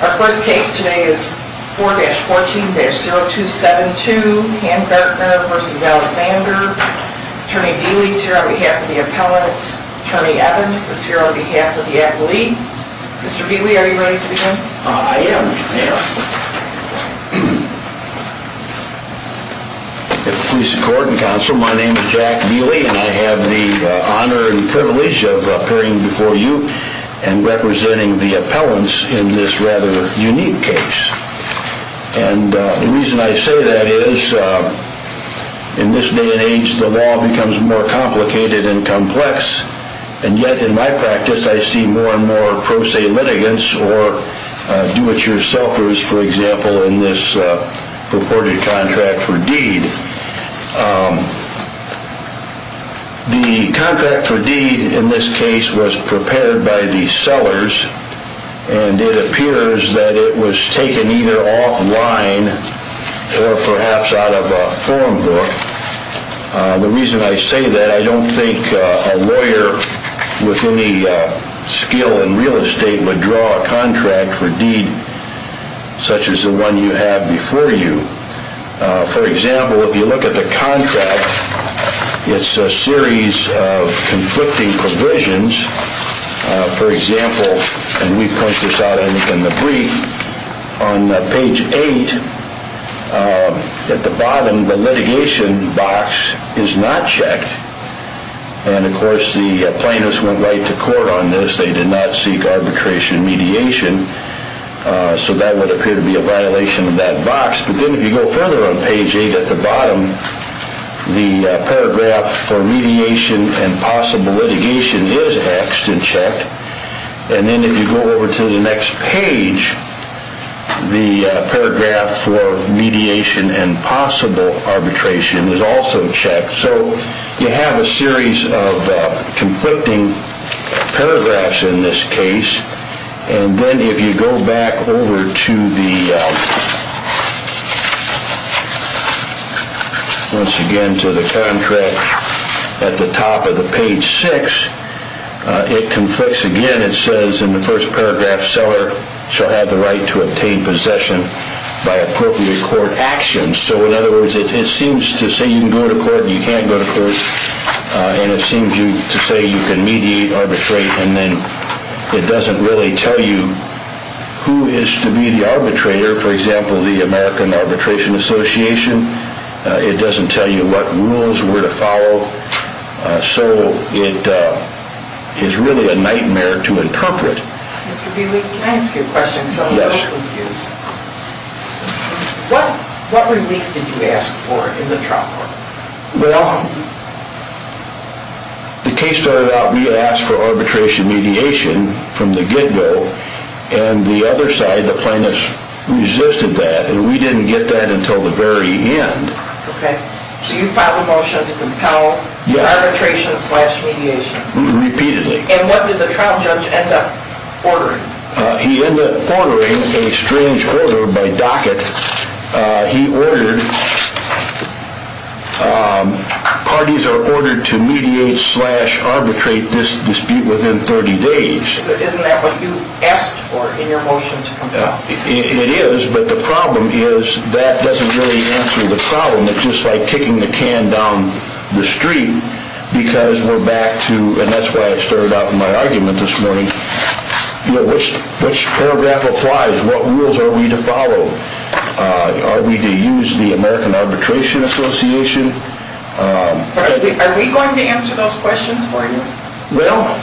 Our first case today is 4-14-0272 Handartner v. Alexander. Attorney Veeley is here on behalf of the appellate. Attorney Evans is here on behalf of the appellate. Mr. Veeley, are you ready to begin? Mr. Veeley I am. Mr. Veeley The contract for deed in this case was prepared by the sellers and it appears that it was taken either offline or perhaps out of a form book. Mr. Veeley The reason I say that, I don't think a lawyer with any skill in real estate would draw a contract for deed such as the one you have before you. Mr. Veeley For example, if you look at the contract, it's a series of conflicting provisions. Mr. Veeley Further on page 8 at the bottom, the paragraph for mediation and possible litigation is axed and checked. Mr. Veeley And then if you go over to the next page, the paragraph for mediation and possible arbitration is also checked. Mr. Veeley So you have a series of conflicting paragraphs in this case. Mr. Veeley And then if you go back over to the contract at the top of page 6, it conflicts again. Mr. Veeley And it says in the first paragraph, seller shall have the right to obtain possession by appropriate court actions. Mr. Veeley So in other words, it seems to say you can go to court and you can't go to court. Mr. Veeley And it seems to say you can mediate, arbitrate, and then it doesn't really tell you who is to be the arbitrator. Mr. Veeley For example, the American Arbitration Association. Mr. Veeley It doesn't tell you what rules were to follow. Mr. Veeley So it is really a nightmare to interpret. Ms. Laird Mr. Veeley, can I ask you a question? Mr. Veeley Yes. Ms. Laird What relief did you ask for in the trial court? Mr. Veeley Well, the case started out, we asked for arbitration mediation from the get-go. Mr. Veeley And the other side, the plaintiffs, resisted that. Mr. Veeley And we didn't get that until the very end. Ms. Laird So you filed a motion to compel arbitration slash mediation? Mr. Veeley Repeatedly. Ms. Laird And what did the trial judge end up ordering? Mr. Veeley He ended up ordering a strange order by docket. Mr. Veeley He ordered, parties are ordered to mediate slash arbitrate this dispute within 30 days. Ms. Laird So isn't that what you asked for in your motion to compel? Mr. Veeley It is, but the problem is that doesn't really answer the problem. Mr. Veeley It's just like kicking the can down the street because we're back to, Mr. Veeley and that's why I started off in my argument this morning, Mr. Veeley which paragraph applies, what rules are we to follow? Mr. Veeley Are we to use the American Arbitration Association? Ms. Laird Are we going to answer those questions for you? Mr. Veeley Well,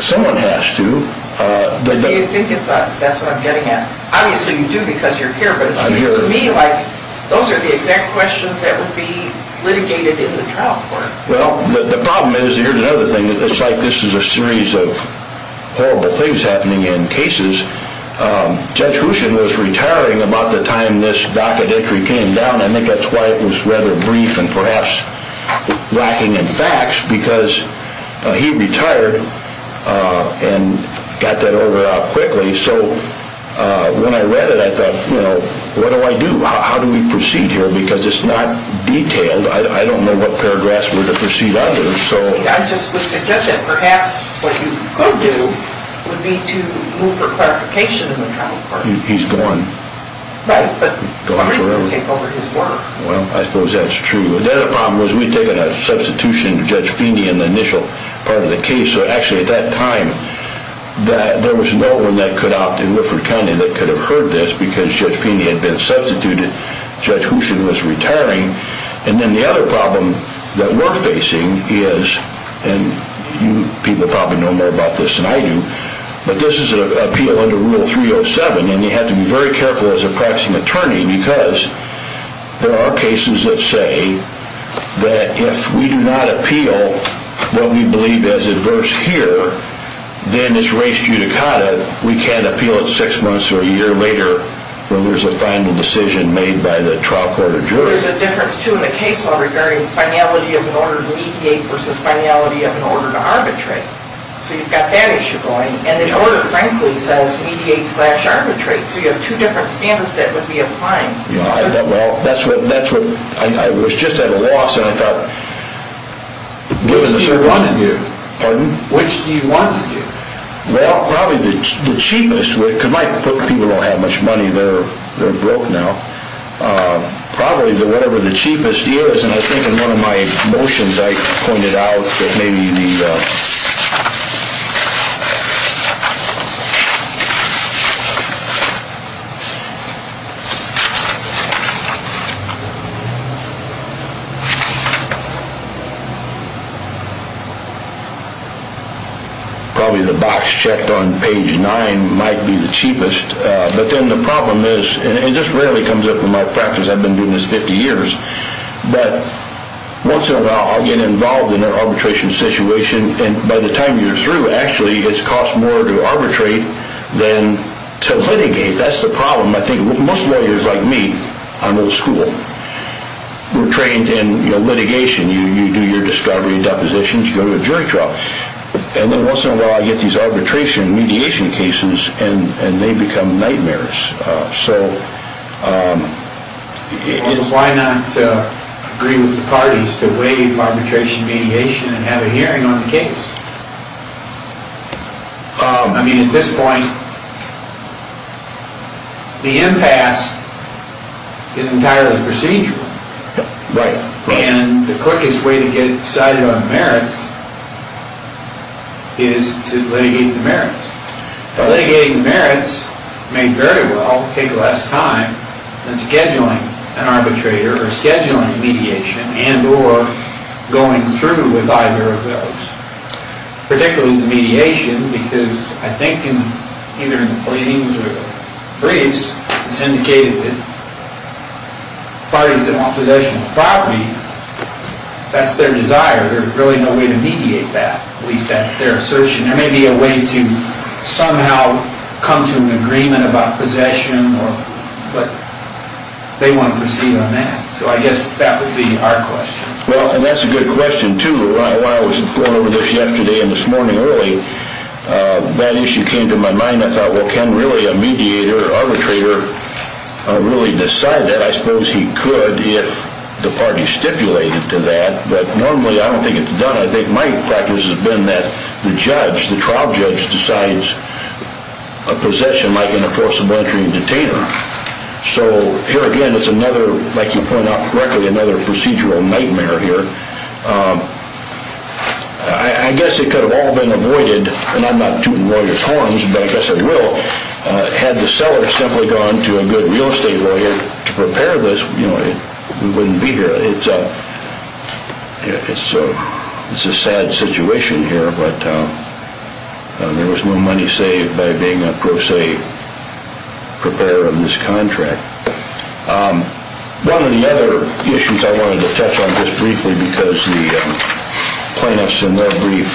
someone has to. Ms. Laird Do you think it's us? That's what I'm getting at. Ms. Laird Obviously you do because you're here, but it seems to me like those are the exact questions that would be litigated in the trial court. Mr. Veeley Well, the problem is, here's another thing. Mr. Veeley It's like this is a series of horrible things happening in cases. Mr. Veeley Judge Houchen was retiring about the time this docket entry came down. Mr. Veeley I think that's why it was rather brief and perhaps lacking in facts, Mr. Veeley because he retired and got that over with quickly. Mr. Veeley So when I read it, I thought, you know, what do I do? Mr. Veeley How do we proceed here because it's not detailed. Mr. Veeley I don't know what paragraphs were to proceed under. Ms. Laird I just would suggest that perhaps what you could do would be to move for clarification in the trial court. Mr. Veeley He's gone. Ms. Laird Right, but somebody is going to take over his work. Mr. Veeley Well, I suppose that's true. Mr. Veeley The other problem was we'd taken a substitution to Judge Feeney in the initial part of the case. Mr. Veeley So actually at that time there was no one that could opt in Wilfrid County that could have heard this because Judge Feeney had been substituted. Mr. Veeley Judge Houchen was retiring. Mr. Veeley And then the other problem that we're facing is, and you people probably know more about this than I do, Mr. Veeley but this is an appeal under Rule 307 and you have to be very careful as a practicing attorney Mr. Veeley because there are cases that say that if we do not appeal what we believe is adverse here, Mr. Veeley then it's res judicata. Mr. Veeley We can't appeal it six months or a year later when there's a final decision made by the trial court of jury. Ms. Laird There's a difference too in the case law regarding finality of an order to mediate versus finality of an order to arbitrate. Ms. Laird So you've got that issue going. Ms. Laird And the order frankly says mediate slash arbitrate so you have two different standards that would be applying. Mr. Veeley I thought well that's what, I was just at a loss and I thought, given the circumstances. Mr. Veeley Which do you want to do? Mr. Veeley Pardon? Mr. Veeley Which do you want to do? Mr. Veeley Well probably the cheapest way, because my people don't have much money, they're broke now. Mr. Veeley Probably whatever the cheapest is, and I think in one of my motions I pointed out that maybe the Mr. Veeley Probably the box checked on page nine might be the cheapest. Mr. Veeley But then the problem is, and it just rarely comes up in my practice, I've been doing this 50 years, Mr. Veeley But once in a while I get involved in an arbitration situation and by the time you're through, Mr. Veeley Actually it's cost more to arbitrate than to litigate. Mr. Veeley That's the problem. Mr. Veeley I think most lawyers like me, I'm old school, were trained in litigation. Mr. Veeley You do your discovery and depositions, you go to a jury trial. Mr. Veeley And then once in a while I get these arbitration mediation cases and they become nightmares. Mr. Veeley So... Mr. Veeley Why not agree with the parties to waive arbitration mediation and have a hearing on the case? Mr. Veeley I mean at this point, the impasse is entirely procedural. Mr. Veeley Right. Mr. Veeley The quickest way to get decided on merits is to litigate the merits. Mr. Veeley But litigating the merits may very well take less time than scheduling an arbitrator or scheduling a mediation Mr. Veeley and or going through with either of those. Mr. Veeley Particularly the mediation, because I think either in the pleadings or briefs, Mr. Veeley it's indicated that parties that want possession of property, that's their desire. Mr. Veeley There's really no way to mediate that. Mr. Veeley At least that's their assertion. Mr. Veeley There may be a way to somehow come to an agreement about possession, but they want to proceed on that. Mr. Veeley So I guess that would be our question. Mr. Veeley I think too, while I was going over this yesterday and this morning early, that issue came to my mind. Mr. Veeley I thought well can really a mediator or arbitrator really decide that? Mr. Veeley I suppose he could if the party stipulated to that, but normally I don't think it's done. Mr. Veeley I think my practice has been that the judge, the trial judge, decides a possession like an enforceable entry and detainer. Mr. Veeley So here again it's another, like you point out correctly, another procedural nightmare here. Mr. Veeley I guess it could have all been avoided, and I'm not tooting lawyers' horns, but I guess I will. Mr. Veeley Had the seller simply gone to a good real estate lawyer to prepare this, we wouldn't be here. Mr. Veeley It's a sad situation here, but there was no money saved by being a pro se preparer of this contract. Mr. Veeley One of the other issues I wanted to touch on just briefly because the plaintiffs in their brief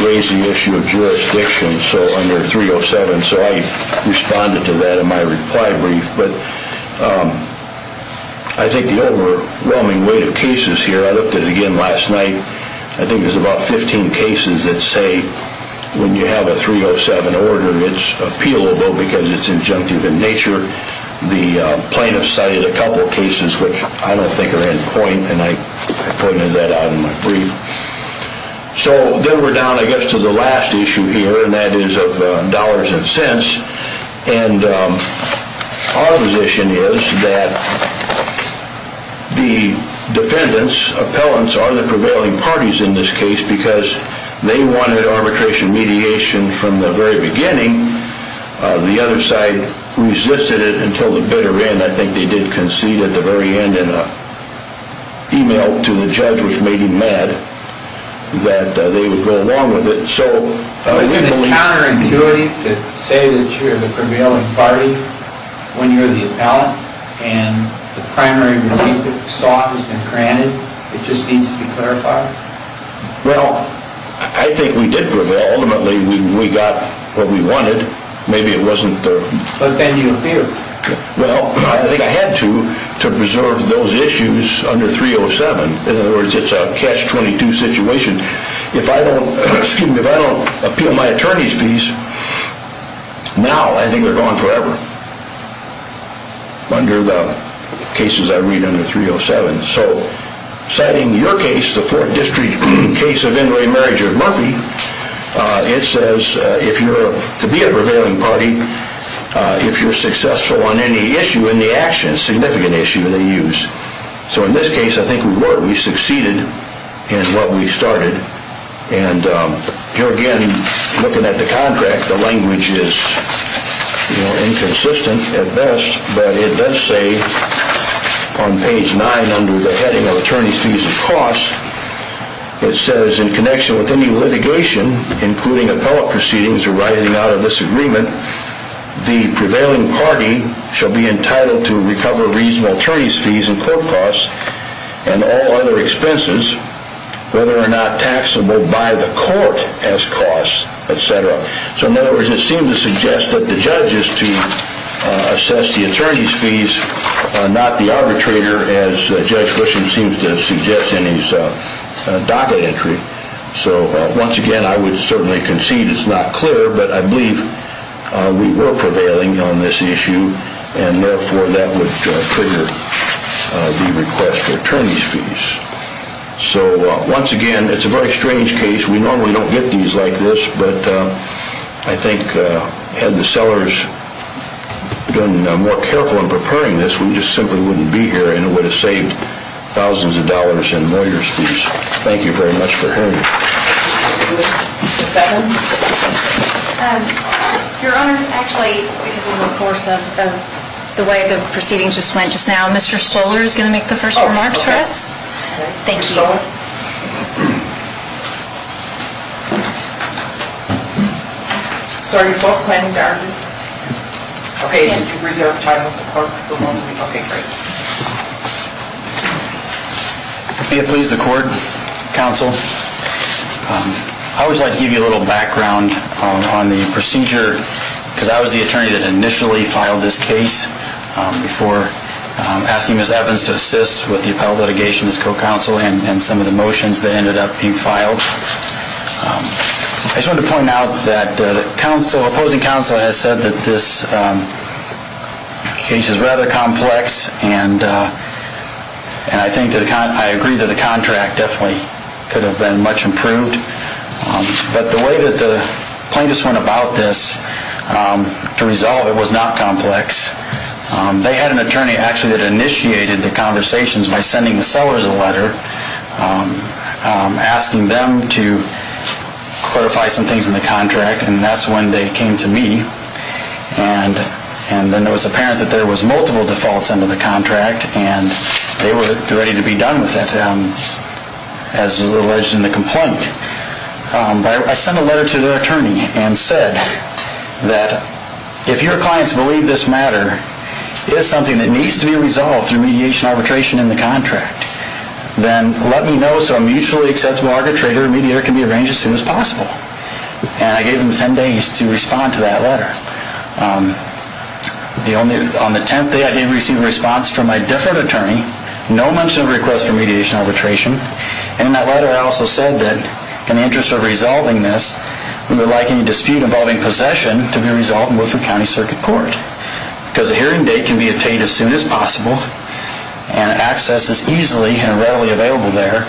raised the issue of jurisdiction under 307, Mr. Veeley so I responded to that in my reply brief, but I think the overwhelming weight of cases here, I looked at it again last night, Mr. Veeley I think there's about 15 cases that say when you have a 307 order it's appealable because it's injunctive in nature. Mr. Veeley The plaintiffs cited a couple of cases which I don't think are in point, and I pointed that out in my brief. Mr. Veeley So then we're down I guess to the last issue here, and that is of dollars and cents. Mr. Veeley And our position is that the defendants, appellants, are the prevailing parties in this case because they wanted arbitration mediation from the very beginning. Mr. Veeley The other side resisted it until the bitter end. I think they did concede at the very end in an e-mail to the judge which made him mad that they would go along with it. Mr. Veeley So is it counterintuitive to say that you're the prevailing party when you're the appellant, and the primary relief that you sought has been granted? It just needs to be clarified? Mr. Veeley Well, I think we did prevail. Ultimately, we got what we wanted. Maybe it wasn't the... Mr. Veeley But then you appealed. Mr. Veeley Now, I think they're gone forever under the cases I read under 307. So citing your case, the Fourth District case of inmate marriage of Murphy, it says if you're to be a prevailing party, if you're successful on any issue in the action, significant issue, they use. Mr. Veeley So in this case, I think we were. We succeeded in what we started. And here again, looking at the contract, the language is inconsistent at best, but it does say on page 9 under the heading of attorney's fees and costs, it says in connection with any litigation, including appellate proceedings arriving out of this agreement, the prevailing party shall be entitled to recover reasonable attorney's fees and costs. Mr. Veeley And all other expenses, whether or not taxable by the court as costs, etc. So in other words, it seems to suggest that the judge is to assess the attorney's fees, not the arbitrator, as Judge Gushen seems to suggest in his docket entry. Mr. Veeley So once again, I would certainly concede it's not clear, but I believe we were prevailing on this issue, and therefore that would trigger the request for attorney's fees. So once again, it's a very strange case. We normally don't get these like this, but I think had the sellers been more careful in preparing this, we just simply wouldn't be here and it would have saved thousands of dollars in lawyer's fees. Judge Gushen Thank you very much for hearing me. Ms. Stoller Your Honor, actually, because of the course of the way the proceedings just went just now, Mr. Stoller is going to make the first remarks for us. Thank you. Ms. Stoller I just wanted to point out that the opposing counsel has said that this case is rather complex, and I agree that the contract definitely could have been much improved. But the way that the plaintiffs went about this to resolve it was not complex. They had an attorney actually that initiated the conversations by sending the sellers a letter asking them to clarify some things in the contract, and that's when they came to me. And then it was apparent that there was multiple defaults under the contract, and they were ready to be done with it, as was alleged in the complaint. I sent a letter to their attorney and said that if your clients believe this matter is something that needs to be resolved through mediation and arbitration in the contract, then let me know so a mutually acceptable arbitrator and mediator can be arranged as soon as possible. And I gave them 10 days to respond to that letter. On the 10th day I did receive a response from my deferred attorney, no mention of a request for mediation and arbitration, and in that letter I also said that in the interest of resolving this, we would like any dispute involving possession to be resolved in Woodford County Circuit Court. Because a hearing date can be obtained as soon as possible, and access is easily and readily available there,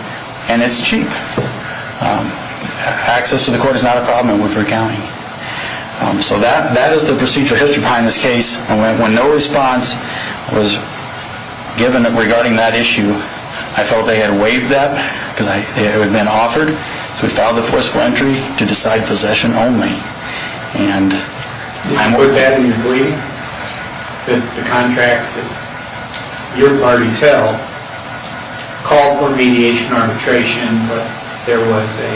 and it's cheap. Access to the court is not a problem in Woodford County. So that is the procedural history behind this case. When no response was given regarding that issue, I felt they had waived that because it had been offered. So we filed a forceful entry to decide possession only. And I'm with that in your belief that the contract that your parties held called for mediation and arbitration, but there was a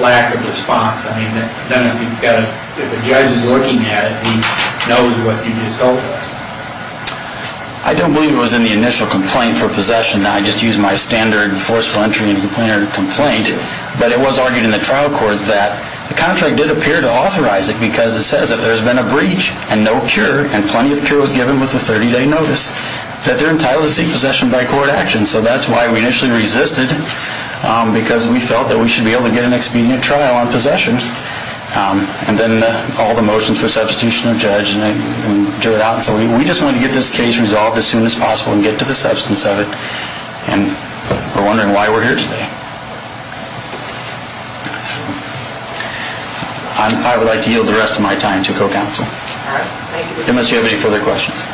lack of response. I mean, if a judge is looking at it, he knows what you just told him. I don't believe it was in the initial complaint for possession. I just used my standard forceful entry and complainer complaint. But it was argued in the trial court that the contract did appear to authorize it because it says if there's been a breach and no cure, and plenty of cure was given with a 30-day notice, that they're entitled to seek possession by court action. And so that's why we initially resisted, because we felt that we should be able to get an expedient trial on possessions. And then all the motions for substitution of judge and drew it out. So we just wanted to get this case resolved as soon as possible and get to the substance of it. And we're wondering why we're here today. I would like to yield the rest of my time to co-counsel. Unless you have any further questions.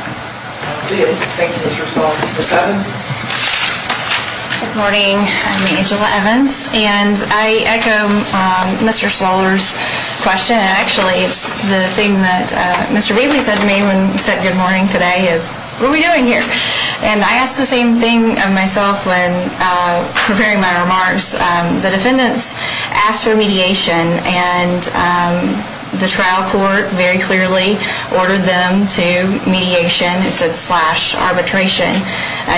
Thank you, Mr. Stoller. Ms. Evans? Good morning. I'm Angela Evans. And I echo Mr. Stoller's question. Actually, it's the thing that Mr. Wheatley said to me when he said good morning today is, what are we doing here? And I asked the same thing of myself when preparing my remarks. The defendants asked for mediation. And the trial court very clearly ordered them to mediation. It said slash arbitration.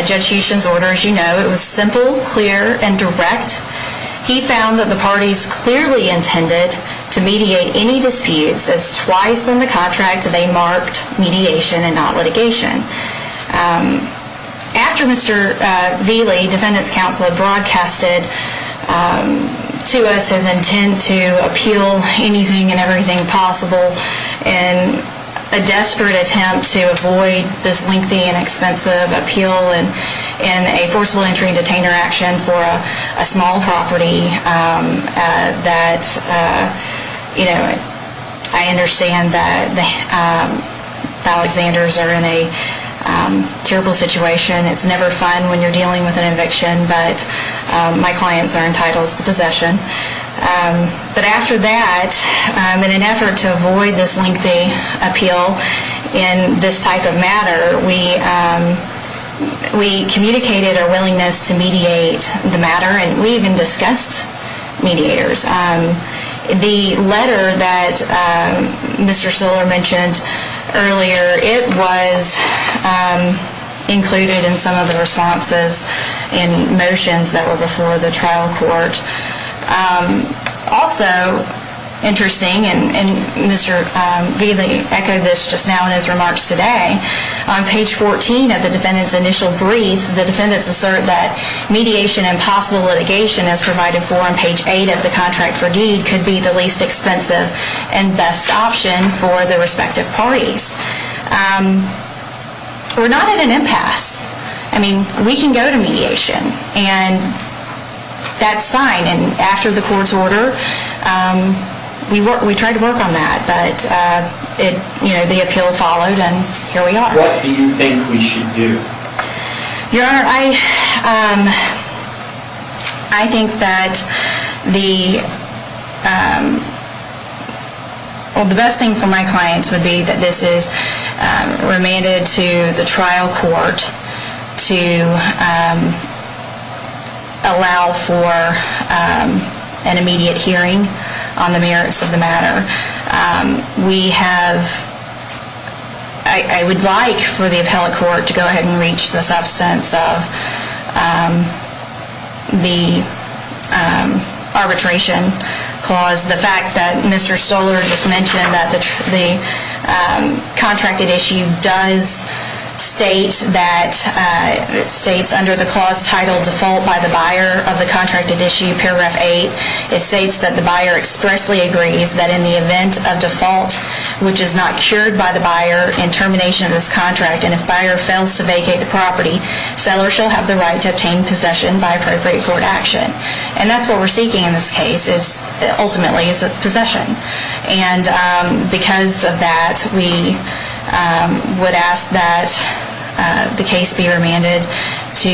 Judge Huston's order, as you know, it was simple, clear, and direct. He found that the parties clearly intended to mediate any disputes as twice in the contract they marked mediation and not litigation. After Mr. Wheatley, defendant's counsel, had broadcasted to us his intent to appeal anything and everything possible in a desperate attempt to avoid this lengthy and expensive appeal in a forcible entry and detainer action for a small property, that, you know, I understand that the Alexanders are in a terrible situation. It's never fun when you're dealing with an eviction, but my clients are entitled to the possession. But after that, in an effort to avoid this lengthy appeal in this type of matter, we communicated our willingness to mediate the matter, and we even discussed mediators. The letter that Mr. Stiller mentioned earlier, it was included in some of the responses and motions that were before the trial court. Also, interesting, and Mr. Wheatley echoed this just now in his remarks today, on page 14 of the defendant's initial brief, the defendants assert that mediation and possible litigation, as provided for on page 8 of the contract for due, could be the least expensive and best option for the respective parties. We're not at an impasse. I mean, we can go to mediation, and that's fine, and after the court's order, we tried to work on that, but, you know, the appeal followed, and here we are. What do you think we should do? Your Honor, I think that the best thing for my clients would be that this is remanded to the trial court to allow for an immediate hearing on the merits of the matter. We have, I would like for the appellate court to go ahead and reach the substance of the arbitration clause. The fact that Mr. Stoller just mentioned that the contracted issue does state that it's under the clause titled default by the buyer of the contracted issue, paragraph 8. It states that the buyer expressly agrees that in the event of default, which is not cured by the buyer in termination of this contract, and if buyer fails to vacate the property, seller shall have the right to obtain possession by appropriate court action. And that's what we're seeking in this case, ultimately, is possession. And because of that, we would ask that the case be remanded to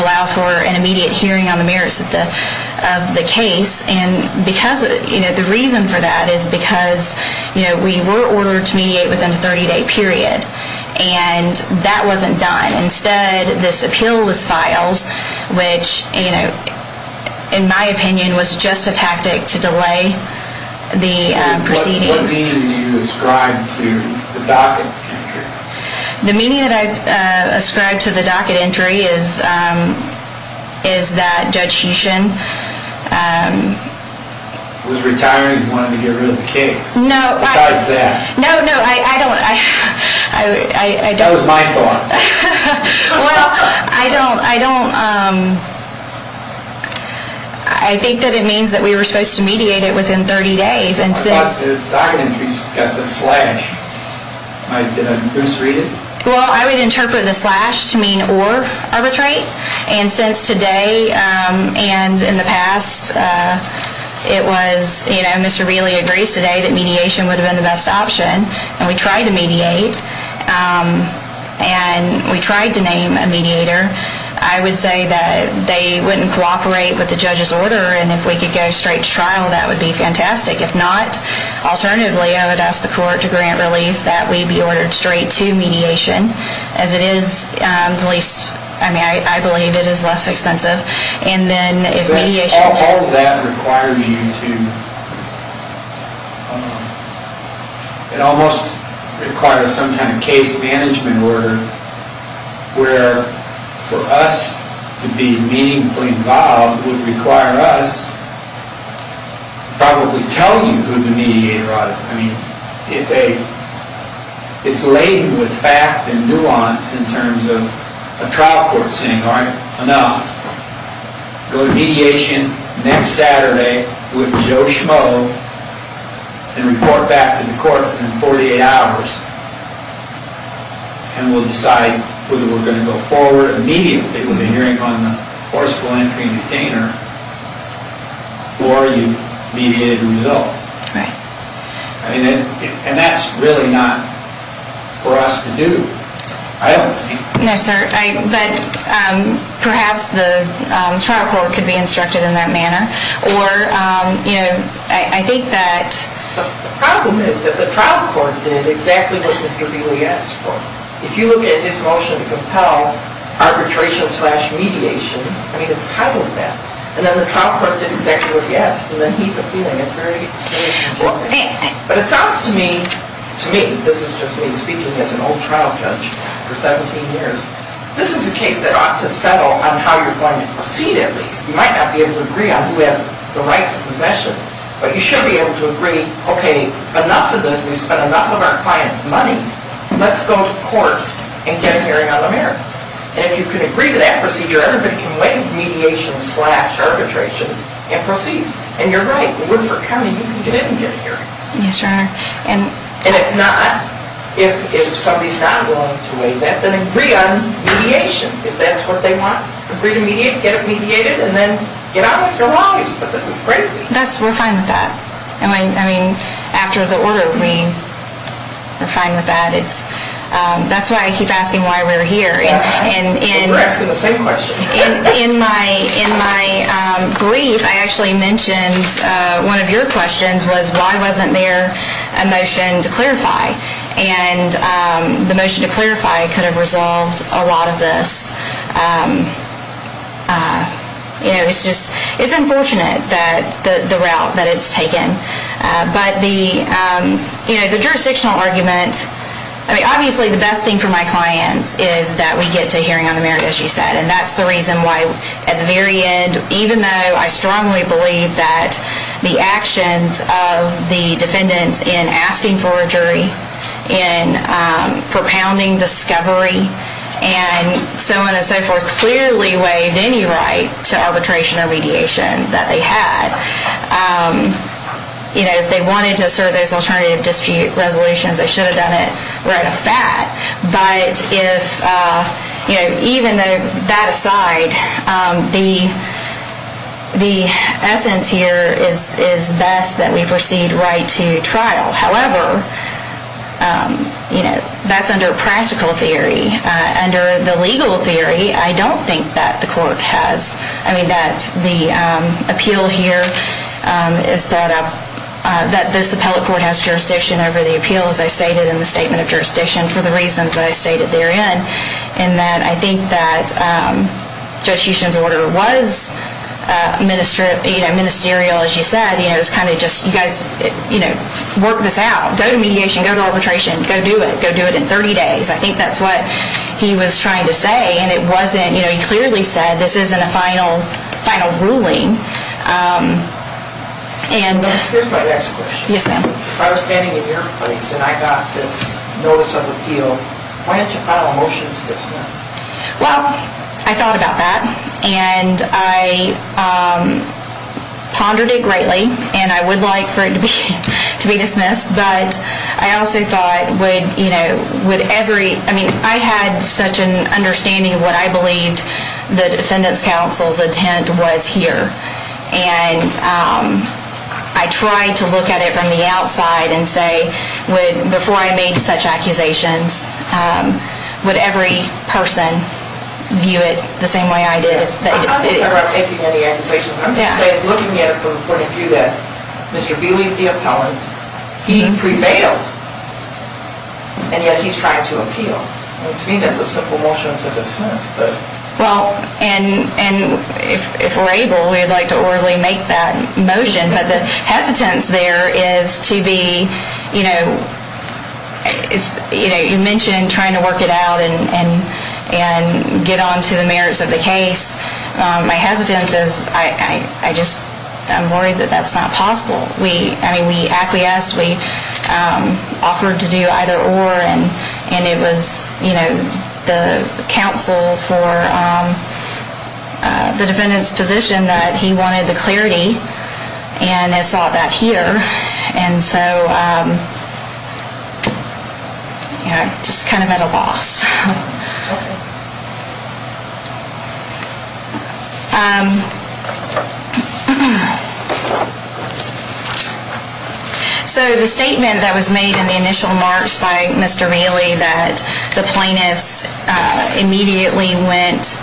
allow for an immediate hearing on the merits of the case. And the reason for that is because we were ordered to mediate within a 30-day period, and that wasn't done. Instead, this appeal was filed, which, in my opinion, was just a tactic to delay the proceedings. What meaning do you ascribe to the docket entry? The meaning that I ascribe to the docket entry is that Judge Heshin... Was retiring and wanted to get rid of the case. No, I... Besides that. No, no, I don't... That was my thought. Well, I don't... I think that it means that we were supposed to mediate it within 30 days, and since... I thought the docket entries got the slash. Did I misread it? Well, I would interpret the slash to mean or arbitrate. And since today and in the past, it was... Mr. Wheelie agrees today that mediation would have been the best option, and we tried to mediate. And we tried to name a mediator. I would say that they wouldn't cooperate with the judge's order, and if we could go straight to trial, that would be fantastic. If not, alternatively, I would ask the court to grant relief that we be ordered straight to mediation, as it is the least... I mean, I believe it is less expensive. And then if mediation... All of that requires you to... It almost requires some kind of case management order where, for us to be meaningfully involved, would require us probably telling you who the mediator ought to be. I mean, it's a... It's laden with fact and nuance in terms of a trial court saying, All right, enough. Go to mediation next Saturday with Joe Schmoe, and report back to the court in 48 hours, and we'll decide whether we're going to go forward immediately with the hearing on the forcible entry and retainer, or you've mediated a result. Right. And that's really not for us to do. I don't think... No, sir. But perhaps the trial court could be instructed in that manner. Or, you know, I think that... The problem is that the trial court did exactly what Mr. Beeley asked for. If you look at his motion to compel arbitration slash mediation, I mean, it's titled that. And then the trial court did exactly what he asked, and then he's appealing. It's very confusing. But it sounds to me, to me, this is just me speaking as an old trial judge for 17 years, this is a case that ought to settle on how you're going to proceed at least. You might not be able to agree on who has the right to possession, but you should be able to agree, okay, enough of this. We've spent enough of our clients' money. Let's go to court and get a hearing on the merits. And if you can agree to that procedure, everybody can wait for mediation slash arbitration and proceed. And you're right. We're coming. You can get in and get a hearing. Yes, Your Honor. And if not, if somebody's not willing to wait, then agree on mediation, if that's what they want. Agree to mediate, get it mediated, and then get out with your lawyers. But this is crazy. We're fine with that. I mean, after the order, we're fine with that. That's why I keep asking why we're here. We're asking the same question. In my brief, I actually mentioned one of your questions was why wasn't there a motion to clarify? And the motion to clarify could have resolved a lot of this. It's unfortunate, the route that it's taken. But the jurisdictional argument, I mean, obviously the best thing for my clients is that we get to a hearing on the merits, as you said, and that's the reason why at the very end, even though I strongly believe that the actions of the defendants in asking for a jury, in propounding discovery, and so on and so forth, clearly waived any right to arbitration or mediation that they had. If they wanted to assert those alternative dispute resolutions, they should have done it right off the bat. But even that aside, the essence here is best that we proceed right to trial. However, that's under practical theory. Under the legal theory, I don't think that the court has. I mean, that the appeal here is that this appellate court has jurisdiction over the appeal, as I stated in the statement of jurisdiction for the reasons that I stated therein. And that I think that Judge Huston's order was ministerial, as you said. It was kind of just, you guys work this out. Go to mediation. Go to arbitration. Go do it. Go do it in 30 days. I think that's what he was trying to say. And it wasn't. He clearly said this isn't a final ruling. Here's my next question. Yes, ma'am. I was standing in your place and I got this notice of appeal. Why didn't you file a motion to dismiss? Well, I thought about that. And I pondered it greatly. And I would like for it to be dismissed. But I also thought, would every ñ I mean, I had such an understanding of what I believed the defendant's counsel's intent was here. And I tried to look at it from the outside and say, before I made such accusations, would every person view it the same way I did? I'm not talking about making any accusations. I'm just looking at it from the point of view that Mr. Buehle is the appellant. He prevailed. And yet he's trying to appeal. To me, that's a simple motion to dismiss. Well, and if we're able, we'd like to orally make that motion. But the hesitance there is to be, you know, you mentioned trying to work it out and get on to the merits of the case. My hesitance is I just am worried that that's not possible. I mean, we acquiesced. We offered to do either or. And it was, you know, the counsel for the defendant's position that he wanted the clarity. And I saw that here. And so, you know, I just kind of met a loss. So the statement that was made in the initial remarks by Mr. Bailey that the plaintiffs immediately went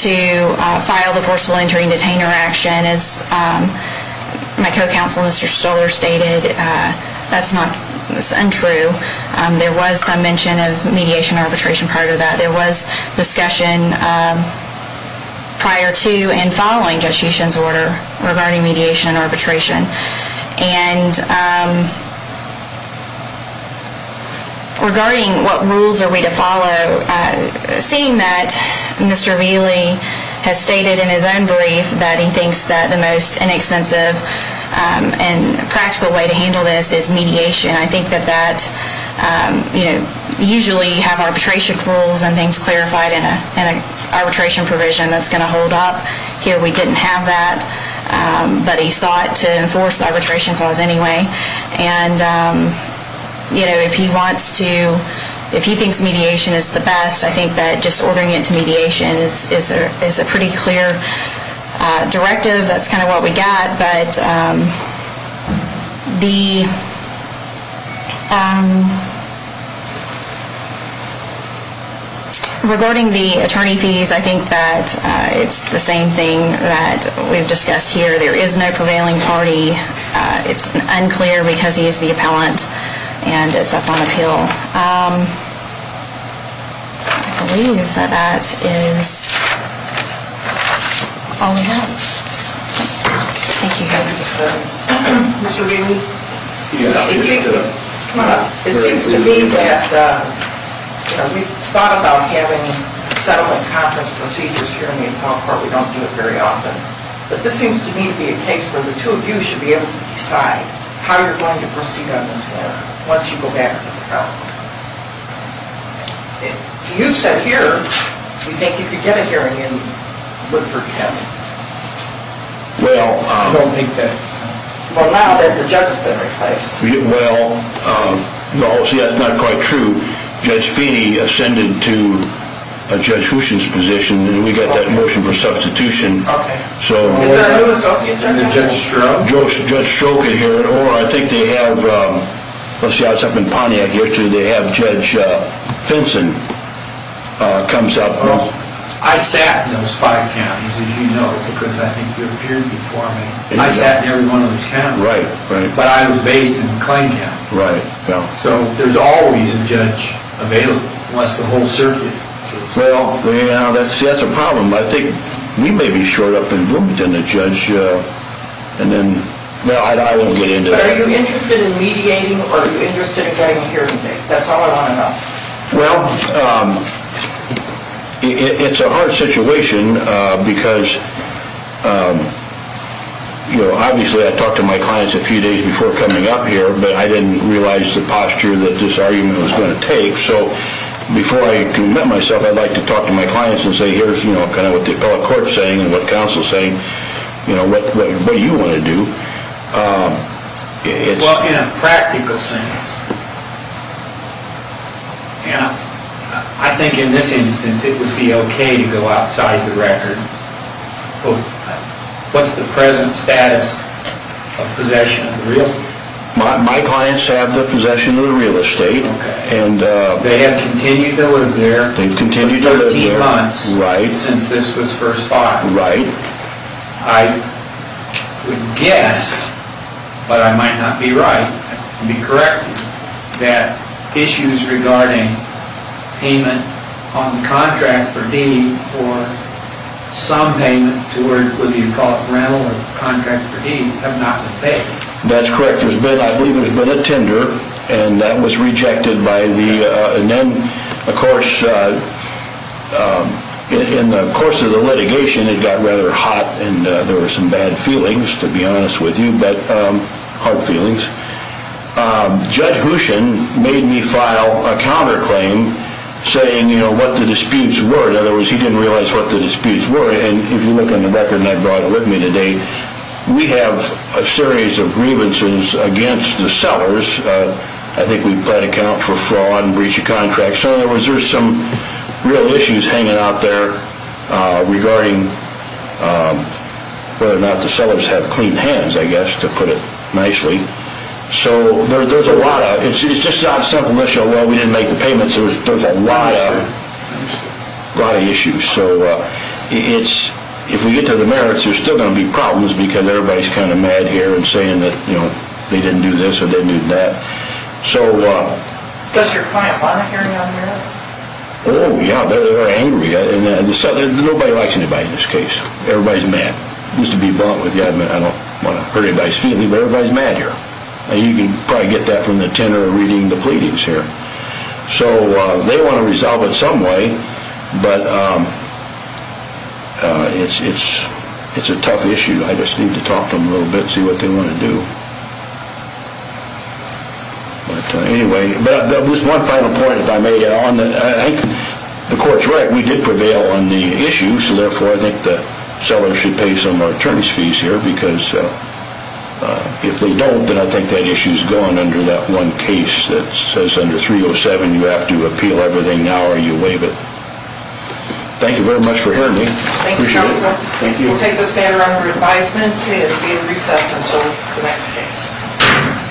to file the forceful entering detainer action, as my co-counsel, Mr. Stoller, stated, that's not untrue. There was some mention of mediation and arbitration prior to that. There was discussion prior to and following Judge Huchin's order regarding mediation and arbitration. And regarding what rules are we to follow, seeing that Mr. Bailey has stated in his own brief that he thinks that the most inexpensive and practical way to handle this is mediation. I think that that, you know, usually you have arbitration rules and things clarified in an arbitration provision that's going to hold up. Here we didn't have that. But he sought to enforce the arbitration clause anyway. And, you know, if he wants to, if he thinks mediation is the best, I think that just ordering it to mediation is a pretty clear directive. That's kind of what we got. But regarding the attorney fees, I think that it's the same thing that we've discussed here. There is no prevailing party. It's unclear because he is the appellant and is up on appeal. I believe that that is all we have. Thank you, Your Honor. Mr. Bailey? It seems to me that, you know, we've thought about having settlement conference procedures here in the appellant court. We don't do it very often. But this seems to me to be a case where the two of you should be able to decide how you're going to proceed on this matter once you go back to the appellant court. You've said here you think you could get a hearing in Woodford County. Well. I don't think that. Well, now that the judge has been replaced. Well, no, see, that's not quite true. Judge Feeney ascended to Judge Houchen's position, and we got that motion for substitution. Okay. So. Judge Stroka. Judge Stroka here at ORRA. Well, I think they have, let's see, I was up in Pontiac yesterday. They have Judge Finson comes up. I sat in those five counties, as you know, because I think you appeared before me. I sat in every one of those counties. Right, right. But I was based in McLean County. Right, well. So there's always a judge available, unless the whole circuit. Well, you know, see, that's a problem. I think we may be short up in room with the judge, and then, well, I won't get into that. Are you interested in mediating, or are you interested in getting a hearing date? That's all I want to know. Well, it's a hard situation because, you know, obviously I talked to my clients a few days before coming up here, but I didn't realize the posture that this argument was going to take. So before I commit myself, I'd like to talk to my clients and say, here's, you know, kind of what the appellate court is saying and what counsel is saying, you know, what do you want to do? Well, in a practical sense, I think in this instance it would be okay to go outside the record. What's the present status of possession of the real estate? My clients have the possession of the real estate. Okay. They have continued to live there for 13 months. Right. Since this was first bought. Right. I would guess, but I might not be right, I'd be correct that issues regarding payment on the contract for deed or some payment towards whether you call it rental or contract for deed have not been paid. That's correct. There's been, I believe there's been a tender, and that was rejected by the, and then, of course, in the course of the litigation, it got rather hot and there were some bad feelings to be honest with you, but hard feelings. Judd Hooshin made me file a counterclaim saying, you know, what the disputes were. In other words, he didn't realize what the disputes were. And if you look on the record, and I brought it with me today, we have a series of grievances against the sellers. I think we've got an account for fraud and breach of contract. So, in other words, there's some real issues hanging out there regarding whether or not the sellers have clean hands, I guess, to put it nicely. So, there's a lot of, it's just not a simple issue of, well, we didn't make the payments. There's a lot of issues. So, it's, if we get to the merits, there's still going to be problems because everybody's kind of mad here and saying that, you know, they didn't do this or they didn't do that. So. Does your client want a hearing on the merits? Oh, yeah, they're angry. Nobody likes anybody in this case. Everybody's mad. Used to be blunt with you. I don't want to hurt anybody's feelings, but everybody's mad here. And you can probably get that from the tenor of reading the pleadings here. So, they want to resolve it some way, but it's a tough issue. I just need to talk to them a little bit and see what they want to do. But, anyway, there was one final point, if I may. I think the court's right. We did prevail on the issue. So, therefore, I think the sellers should pay some returns fees here because if they don't, then I think that issue's gone under that one case that says under 307 you have to appeal everything now or you waive it. Appreciate it. Thank you. We'll take this matter under advisement. It is being recessed until the next case.